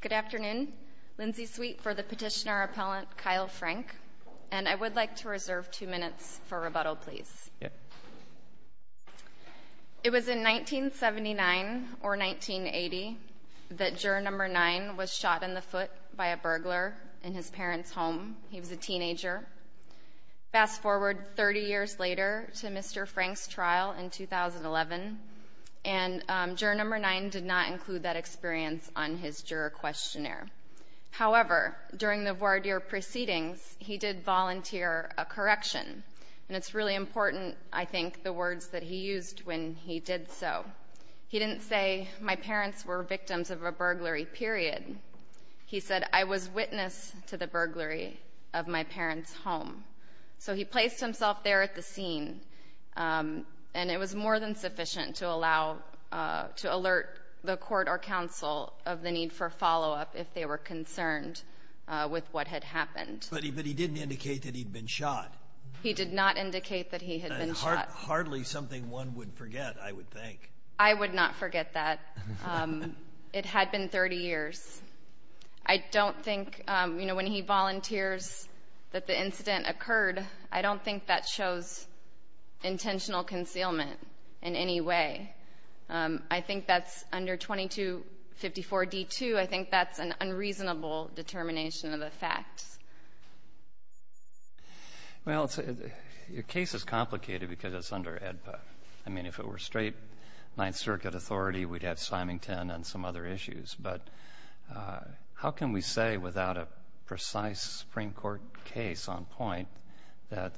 Good afternoon. Lindsay Sweet for the petitioner appellant Kyle Frank and I would like to reserve two minutes for rebuttal please. It was in 1979 or 1980 that juror number nine was shot in the foot by a burglar in his parents home. He was a teenager. Fast forward 30 years later to Mr. Frank's trial in 2011 and juror number nine did not include that experience on his juror questionnaire. However during the voir dire proceedings he did volunteer a correction and it's really important I think the words that he used when he did so. He didn't say my parents were victims of a burglary period. He said I was witness to the burglary of my parents home. So he placed himself there at the scene and it was more than sufficient to allow to alert the court or counsel of the need for follow-up if they were concerned with what had happened. But he didn't indicate that he'd been shot. He did not indicate that he had been shot. Hardly something one would forget I would think. I would not forget that. It had been 30 years. I don't think you know when he volunteers that the incident occurred I don't think that shows intentional concealment in any way. I think that's under 2254 D2. I think that's an unreasonable determination of the facts. Well your case is complicated because it's under AEDPA. I mean if it were straight Ninth Circuit authority we'd have Symington and some other issues but how can we say without a precise Supreme Court case on point that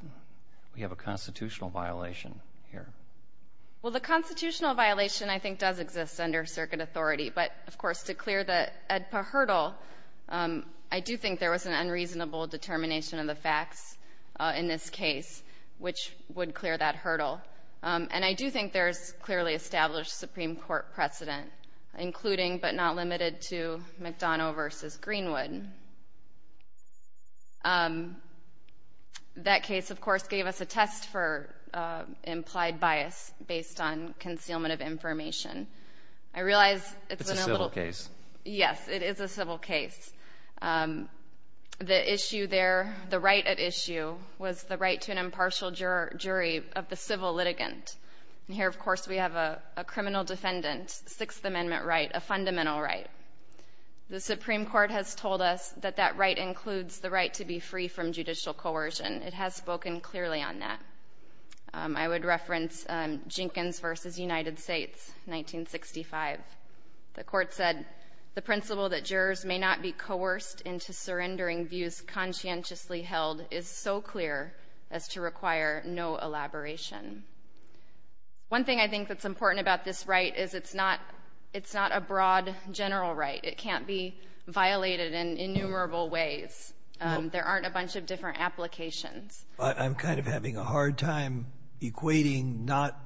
we have a constitutional violation here? Well the constitutional violation I think does exist under circuit authority but of course to clear the AEDPA hurdle I do think there was an unreasonable determination of the facts in this case which would clear that hurdle. And I do think there's clearly established Supreme Court precedent including but not limited to McDonough versus Greenwood. That case of course gave us a test for implied bias based on concealment of information. I realize it's a civil case. Yes it is a civil case. The issue there the right at issue was the right to an impartial jury of the defendant. Sixth Amendment right. A fundamental right. The Supreme Court has told us that that right includes the right to be free from judicial coercion. It has spoken clearly on that. I would reference Jenkins versus United States 1965. The court said the principle that jurors may not be coerced into surrendering views conscientiously held is so clear as to require no elaboration. One thing I think that's important about this right is it's not it's not a broad general right. It can't be violated in innumerable ways. There aren't a bunch of different applications. I'm kind of having a hard time equating not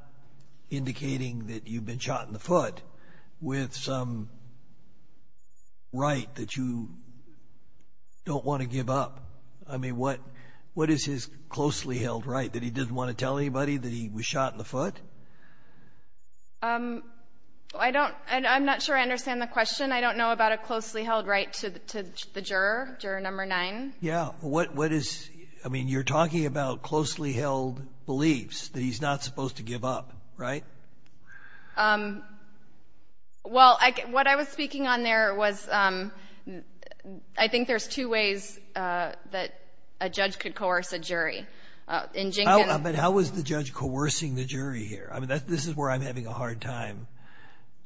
indicating that you've been shot in the foot with some right that you don't want to give up. I mean what what is his closely held right that he didn't want to tell anybody that he was shot in the foot? I don't I'm not sure I understand the question. I don't know about a closely held right to the juror. Juror number nine. Yeah. What what is I mean you're talking about closely held beliefs that he's not supposed to give up. Right. Well what I was speaking on there was I think there's two ways that a judge could coerce a jury in. But how was the judge coercing the jury here? I mean this is where I'm having a hard time.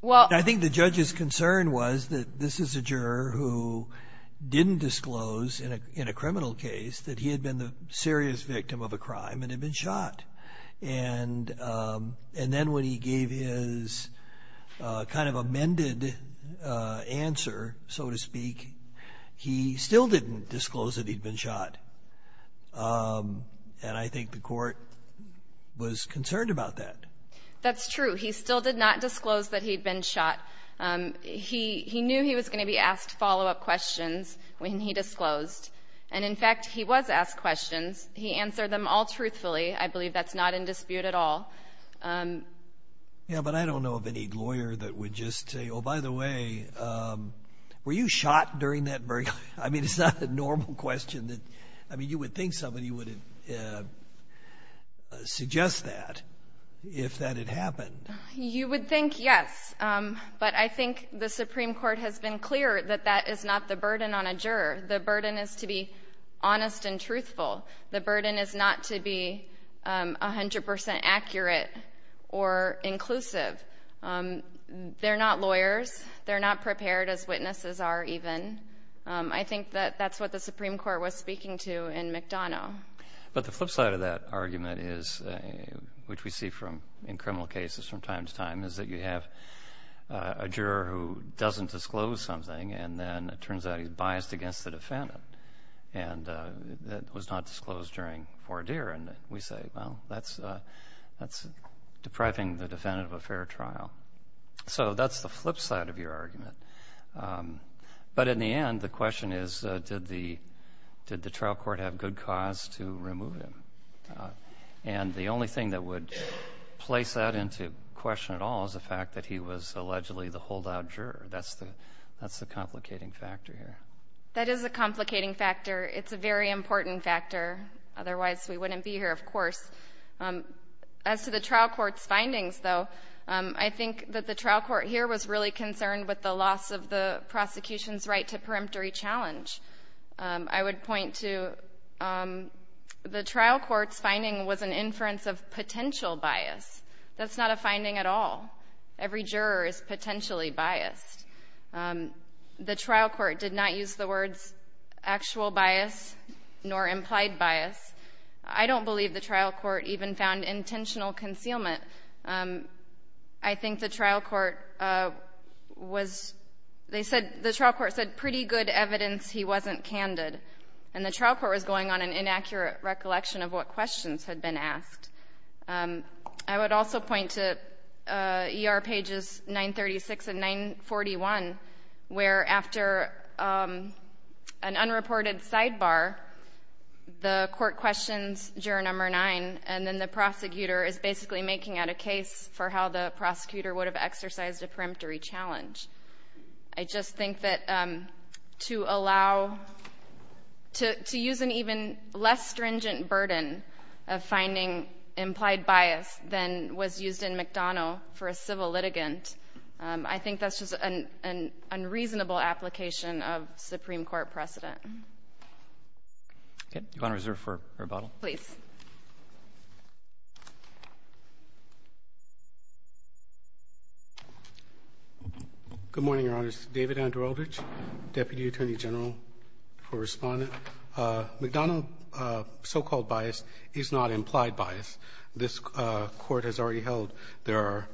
Well I think the judge's concern was that this is a juror who didn't disclose in a in a criminal case that he had been the serious victim of a crime and had been shot. And and then when he gave his kind of amended answer so to speak he still didn't disclose that he'd been shot. And I think the court was concerned about that. That's true. He still did not disclose that he'd been shot. He he knew he was going to be asked follow up questions when he disclosed. And in fact he was asked questions. He answered them all truthfully. I believe that's not in dispute at all. Yeah by the way were you shot during that. I mean it's not a normal question that I mean you would think somebody would suggest that if that had happened. You would think yes. But I think the Supreme Court has been clear that that is not the burden on a juror. The burden is to be honest and truthful. The burden is not to be 100 percent accurate or inclusive. They're not lawyers. They're not prepared as witnesses are even. I think that that's what the Supreme Court was speaking to in McDonough. But the flip side of that argument is which we see from in criminal cases from time to time is that you have a juror who doesn't disclose something and then it turns out he's biased against the defendant and that was not disclosed during four deer. And we say well that's that's depriving the defendant of a fair trial. So that's the flip side of your argument. But in the end the question is did the did the trial court have good cause to remove him. And the only thing that would place that into question at all is the fact that he was allegedly the holdout juror. That's the that's the complicating factor here. That is a complicating factor. It's a very important factor. Otherwise we wouldn't be here of course. As to the trial court's findings though, I think that the trial court here was really concerned with the loss of the prosecution's right to peremptory challenge. I would point to the trial court's finding was an inference of potential bias. That's not a finding at all. Every juror is potentially biased. The trial court did not use the words actual bias nor implied bias. I don't believe the trial court even found intentional concealment. I think the trial court was they said the trial court said pretty good evidence he wasn't candid. And the trial court was going on an inaccurate recollection of what questions had been asked. I would also point to ER pages 936 and 941 where after an unreported sidebar the court questions juror number nine and then the prosecutor is basically making out a case for how the prosecutor would have exercised a peremptory challenge. I just think that to allow to to use an even less stringent burden of finding implied bias than was used in McDonnell for a civil litigant, I think that's just an an unreasonable application of Supreme Court precedent. Roberts. You're on reserve for rebuttal. Please. Good morning, Your Honors. David Andrew Eldridge, Deputy Attorney General for Respondent. McDonnell so-called bias is not implied bias. This Court has already held there are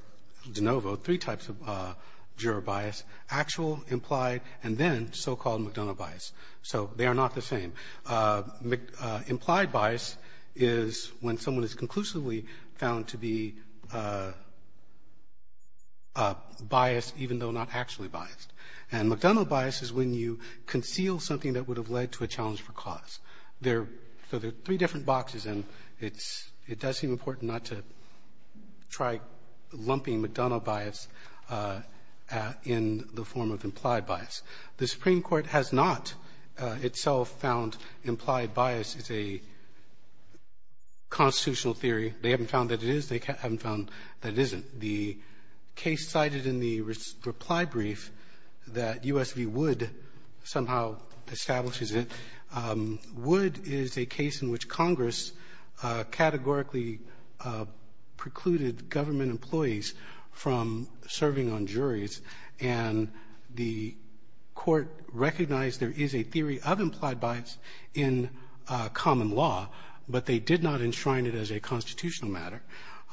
de novo three types of juror bias, actual, implied, and then so-called McDonnell bias. So they are not the same. Implied bias is when someone is conclusively found to be biased even though not actually biased. And McDonnell bias is when you conceal something that would have led to a challenge for cause. There are three different boxes, and it's does seem important not to try lumping McDonnell bias in the form of implied bias. The Supreme Court has not itself found implied bias is a constitutional theory. They haven't found that it is. They haven't found that it isn't. The case cited in the reply brief that U.S. v. Wood somehow establishes it, Wood is a case in which Congress categorically precluded government employees from serving on juries. And the Court recognized there is a theory of implied bias in common law, but they did not enshrine it as a constitutional matter.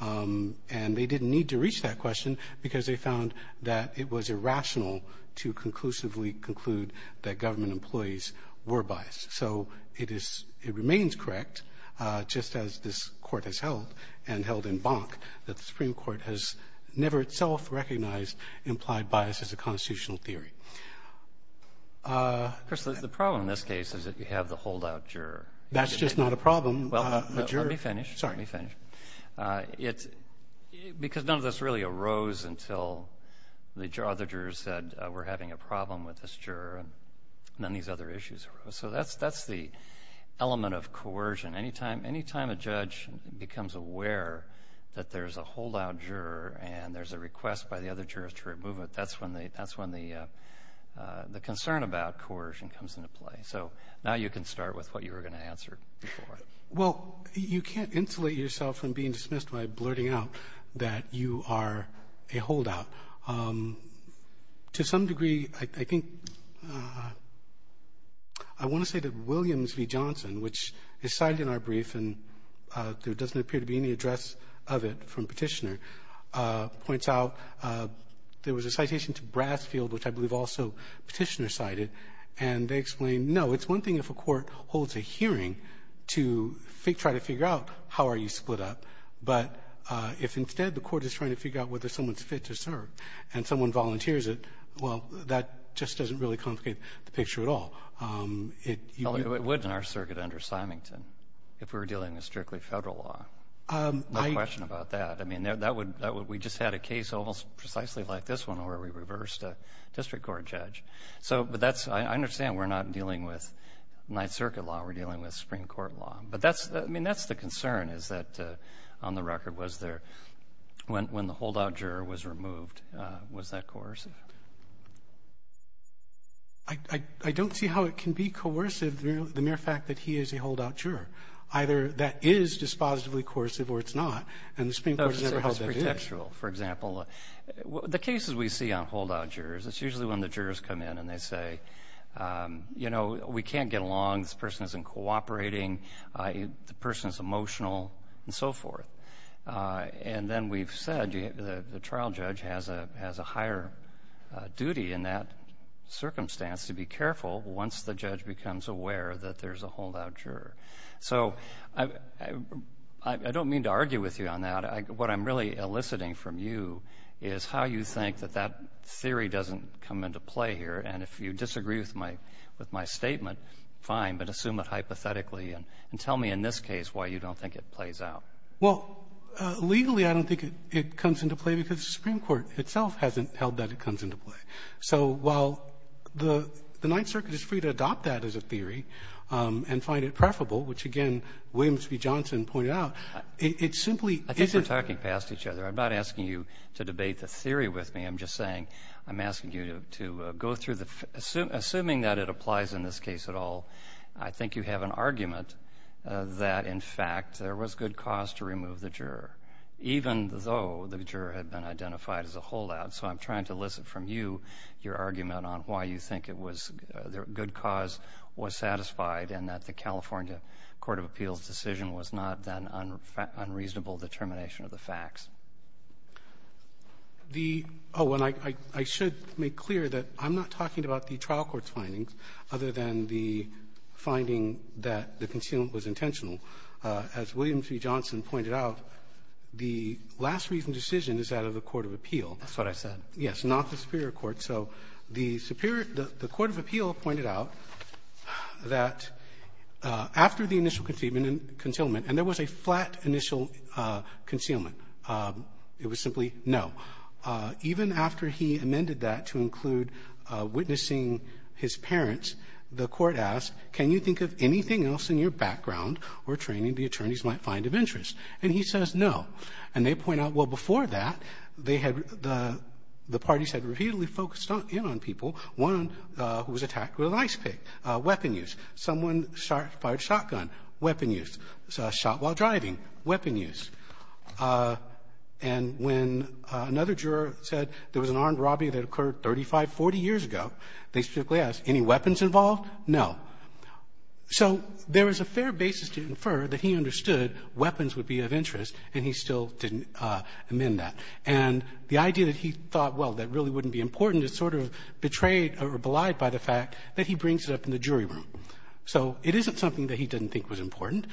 And they didn't need to reach that question because they found that it was irrational to conclusively conclude that government employees were biased. So it is — it remains correct, just as this Court has held and held in Bonk, that the Supreme Court has never itself recognized implied bias as a constitutional theory. Chris, the problem in this case is that you have the holdout juror. That's just not a problem. Well, let me finish. Sorry. Let me finish. It's — because none of this really arose until the other jurors said, we're having a problem with this juror, and then these other issues arose. So that's the element of coercion. Anytime a judge becomes aware that there's a holdout juror and there's a request by the other jurors to remove it, that's when the concern about coercion comes into play. So now you can start with what you were going to answer before. Well, you can't insulate yourself from being dismissed by blurting out that you are a holdout. To some degree, I think — I want to say that Williams v. Johnson, which is cited in our brief, and there doesn't appear to be any address of it from Petitioner, points out there was a citation to Brasfield, which I believe also Petitioner cited, and they explain, no, it's one thing if a court holds a hearing to try to figure out how are you And someone volunteers it, well, that just doesn't really complicate the picture at all. Well, it would in our circuit under Symington if we were dealing with strictly Federal law. I — No question about that. I mean, that would — we just had a case almost precisely like this one where we reversed a district court judge. So — but that's — I understand we're not dealing with Ninth Circuit law. We're dealing with Supreme Court law. But that's — I mean, that's the concern is that, on the record, was there — when the holdout juror was removed, was that coercive? I don't see how it can be coercive, the mere fact that he is a holdout juror. Either that is dispositively coercive or it's not, and the Supreme Court has never held that in. That was pretextual, for example. The cases we see on holdout jurors, it's usually when the jurors come in and they say, you know, we can't get along, this person isn't cooperating, the person is emotional, and so forth. And then we've said, you know, the trial judge has a higher duty in that circumstance to be careful once the judge becomes aware that there's a holdout juror. So I don't mean to argue with you on that. What I'm really eliciting from you is how you think that that theory doesn't come into play here. And if you disagree with my — with my statement, fine, but assume it hypothetically and tell me in this case why you don't think it plays out. Well, legally, I don't think it comes into play because the Supreme Court itself hasn't held that it comes into play. So while the Ninth Circuit is free to adopt that as a theory and find it preferable, which, again, Williams v. Johnson pointed out, it simply isn't the case. I think we're talking past each other. I'm not asking you to debate the theory with me. I'm just saying, I'm asking you to go through the — assuming that it applies in this case at all, I think you have an argument that, in fact, there was good cause to remove the juror, even though the juror had been identified as a holdout. So I'm trying to elicit from you your argument on why you think it was — the good cause was satisfied and that the California court of appeals decision was not that unreasonable determination of the facts. The — oh, and I should make clear that I'm not talking about the trial court's findings other than the finding that the concealment was intentional. As Williams v. Johnson pointed out, the last reasoned decision is that of the court of appeal. That's what I said. Yes. Not the superior court. So the superior — the court of appeal pointed out that after the initial concealment — and there was a flat initial concealment. It was simply no. Even after he amended that to include witnessing his parents, the Court asked, can you think of anything else in your background or training the attorneys might find of interest? And he says no. And they point out, well, before that, they had — the parties had repeatedly focused in on people. One who was attacked with an ice pick, weapon use. Someone fired a shotgun, weapon use. Shot while driving, weapon use. And when another juror said there was an armed robbery that occurred 35, 40 years ago, they specifically asked, any weapons involved? No. So there is a fair basis to infer that he understood weapons would be of interest, and he still didn't amend that. And the idea that he thought, well, that really wouldn't be important is sort of betrayed or belied by the fact that he brings it up in the jury room. So it isn't something that he didn't think was important.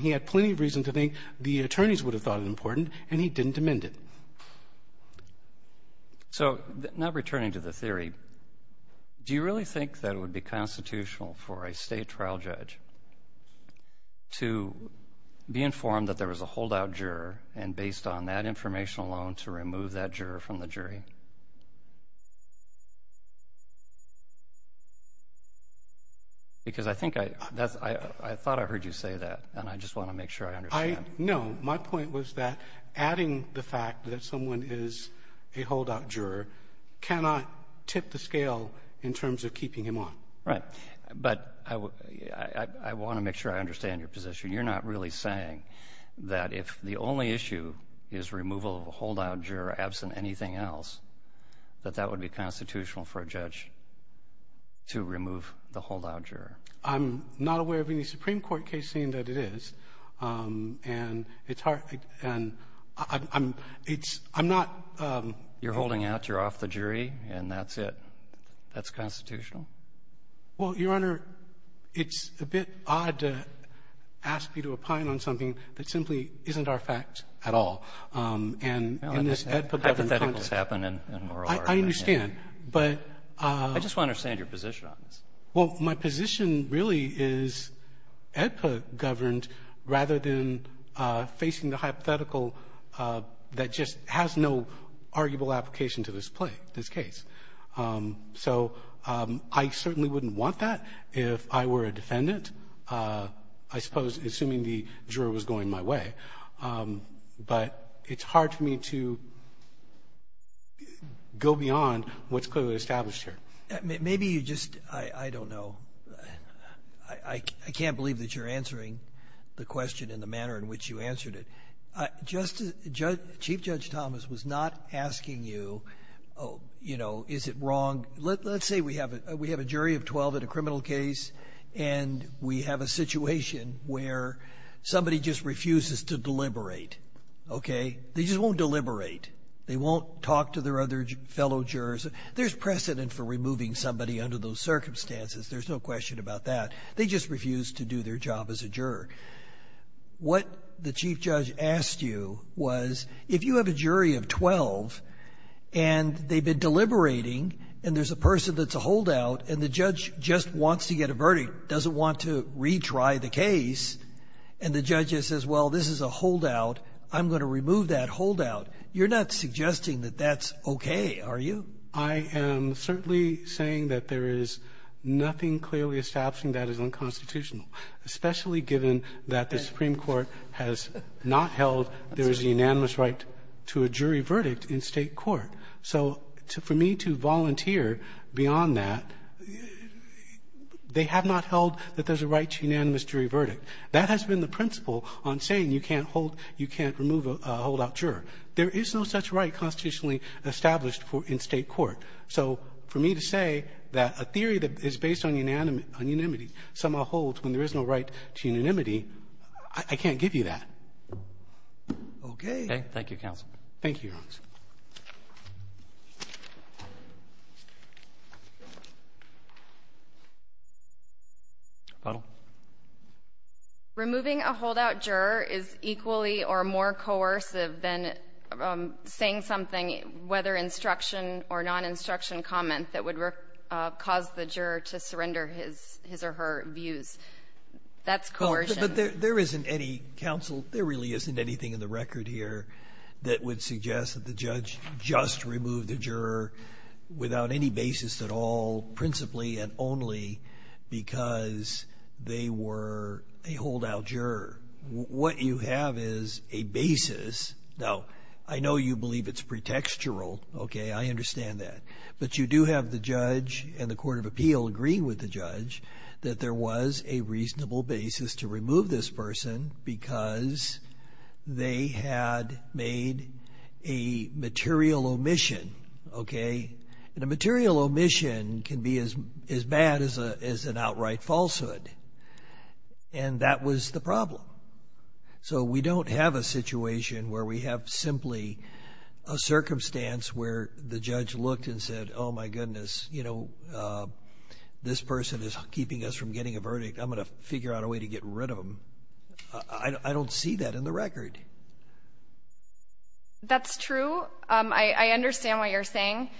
He had plenty of reason to think the attorneys would have thought it important, and he didn't amend it. So now returning to the theory, do you really think that it would be constitutional for a state trial judge to be informed that there was a holdout juror and based on that information alone to remove that juror from the jury? Because I think I — I thought I heard you say that, and I just want to make sure I understand. No, my point was that adding the fact that someone is a holdout juror cannot tip the scale in terms of keeping him on. Right. But I want to make sure I understand your position. You're not really saying that if the only issue is removal of a holdout juror absent anything else, that that would be constitutional for a judge to remove the holdout juror. I'm not aware of any Supreme Court case saying that it is. And it's hard — and I'm — it's — I'm not — You're holding out. You're off the jury. And that's it. That's constitutional? Well, Your Honor, it's a bit odd to ask me to opine on something that simply isn't our fact at all. And in this hypothetical — Hypotheticals happen in a moral argument. I understand. But — I just want to understand your position on this. Well, my position really is AEDPA governed rather than facing the hypothetical that just has no arguable application to this play, this case. So I certainly wouldn't want that if I were a defendant, I suppose, assuming the juror was going my way. But it's hard for me to go beyond what's clearly established here. Maybe you just — I don't know. I can't believe that you're answering the question in the manner in which you answered it. Chief Judge Thomas was not asking you, you know, is it wrong — let's say we have a jury of 12 in a criminal case, and we have a situation where somebody just refuses to deliberate, okay? They just won't deliberate. They won't talk to their other fellow jurors. There's precedent for removing somebody under those circumstances. There's no question about that. They just refuse to do their job as a juror. What the chief judge asked you was if you have a jury of 12, and they've been deliberating, and there's a person that's a holdout, and the judge just wants to get a verdict, doesn't want to retry the case, and the judge just says, well, this is a holdout, I'm going to remove that holdout, you're not suggesting that that's okay, are you? I am certainly saying that there is nothing clearly establishing that is unconstitutional, especially given that the Supreme Court has not held there is a unanimous right to a jury verdict in State court. So for me to volunteer beyond that, they have not held that there's a right to a unanimous jury verdict. That has been the principle on saying you can't hold — you can't remove a holdout juror. There is no such right constitutionally established for — in State court. So for me to say that a theory that is based on unanimity somehow holds when there is no right to unanimity, I can't give you that. Okay. Roberts. Thank you, counsel. Thank you, Your Honor. Please. Removing a holdout juror is equally or more coercive than saying something, whether instruction or non-instruction comment, that would cause the juror to surrender his or her views. That's coercion. But there isn't any, counsel, there really isn't anything in the record here that would suggest that the judge just removed the juror without any basis at all, principally and only because they were a holdout juror. What you have is a basis. Now, I know you believe it's pretextual. Okay. I understand that. But you do have the judge and the court of appeal agreeing with the judge that there was a reasonable basis to remove this person because they had made a material omission. Okay. And a material omission can be as bad as an outright falsehood. And that was the problem. So we don't have a situation where we have simply a circumstance where the judge looked and said, oh, my goodness, you know, this person is keeping us from getting a verdict. I'm going to figure out a way to get rid of them. I don't see that in the record. That's true. I understand what you're saying.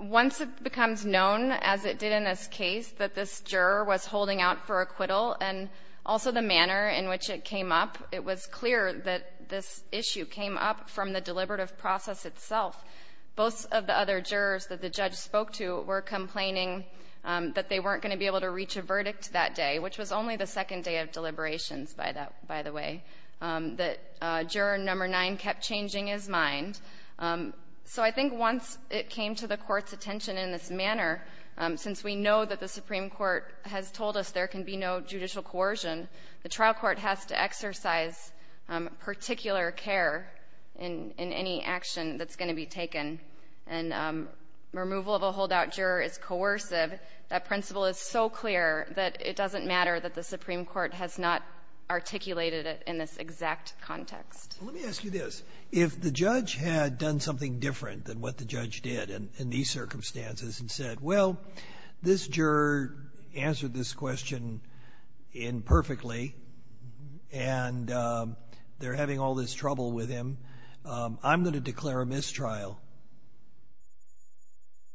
Once it becomes known, as it did in this case, that this juror was holding out for acquittal and also the manner in which it came up, it was clear that this issue came up from the deliberative process itself. Both of the other jurors that the judge spoke to were complaining that they weren't going to be able to reach a verdict that day, which was only the second day of deliberations, by the way, that juror number nine kept changing his mind. So I think once it came to the court's attention in this manner, since we know that the Supreme Court has told us there can be no judicial coercion, the trial court has to exercise particular care in any action that's going to be taken. And removal of a holdout juror is coercive. That principle is so clear that it doesn't matter that the Supreme Court has not articulated it in this exact context. Let me ask you this. If the judge had done something different than what the judge did in these circumstances and said, well, this juror answered this question imperfectly, and they're having all this trouble with him, I'm going to declare a mistrial.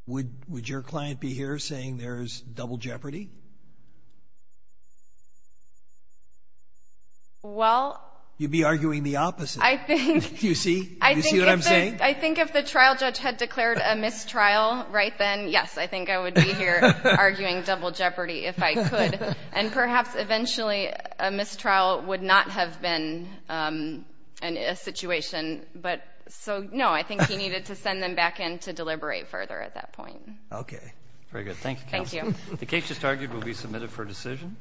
Would your client be here saying there's double jeopardy? Well. You'd be arguing the opposite. I think. Do you see? Do you see what I'm saying? I think if the trial judge had declared a mistrial right then, yes, I think I would be here arguing double jeopardy if I could. And perhaps eventually a mistrial would not have been a situation. But so, no, I think he needed to send them back in to deliberate further at that point. Okay. Very good. Thank you, counsel. Thank you. The case just argued will be submitted for decision.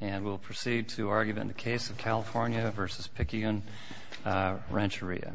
And we'll proceed to argument in the case of California v. Pikian-Rancheria.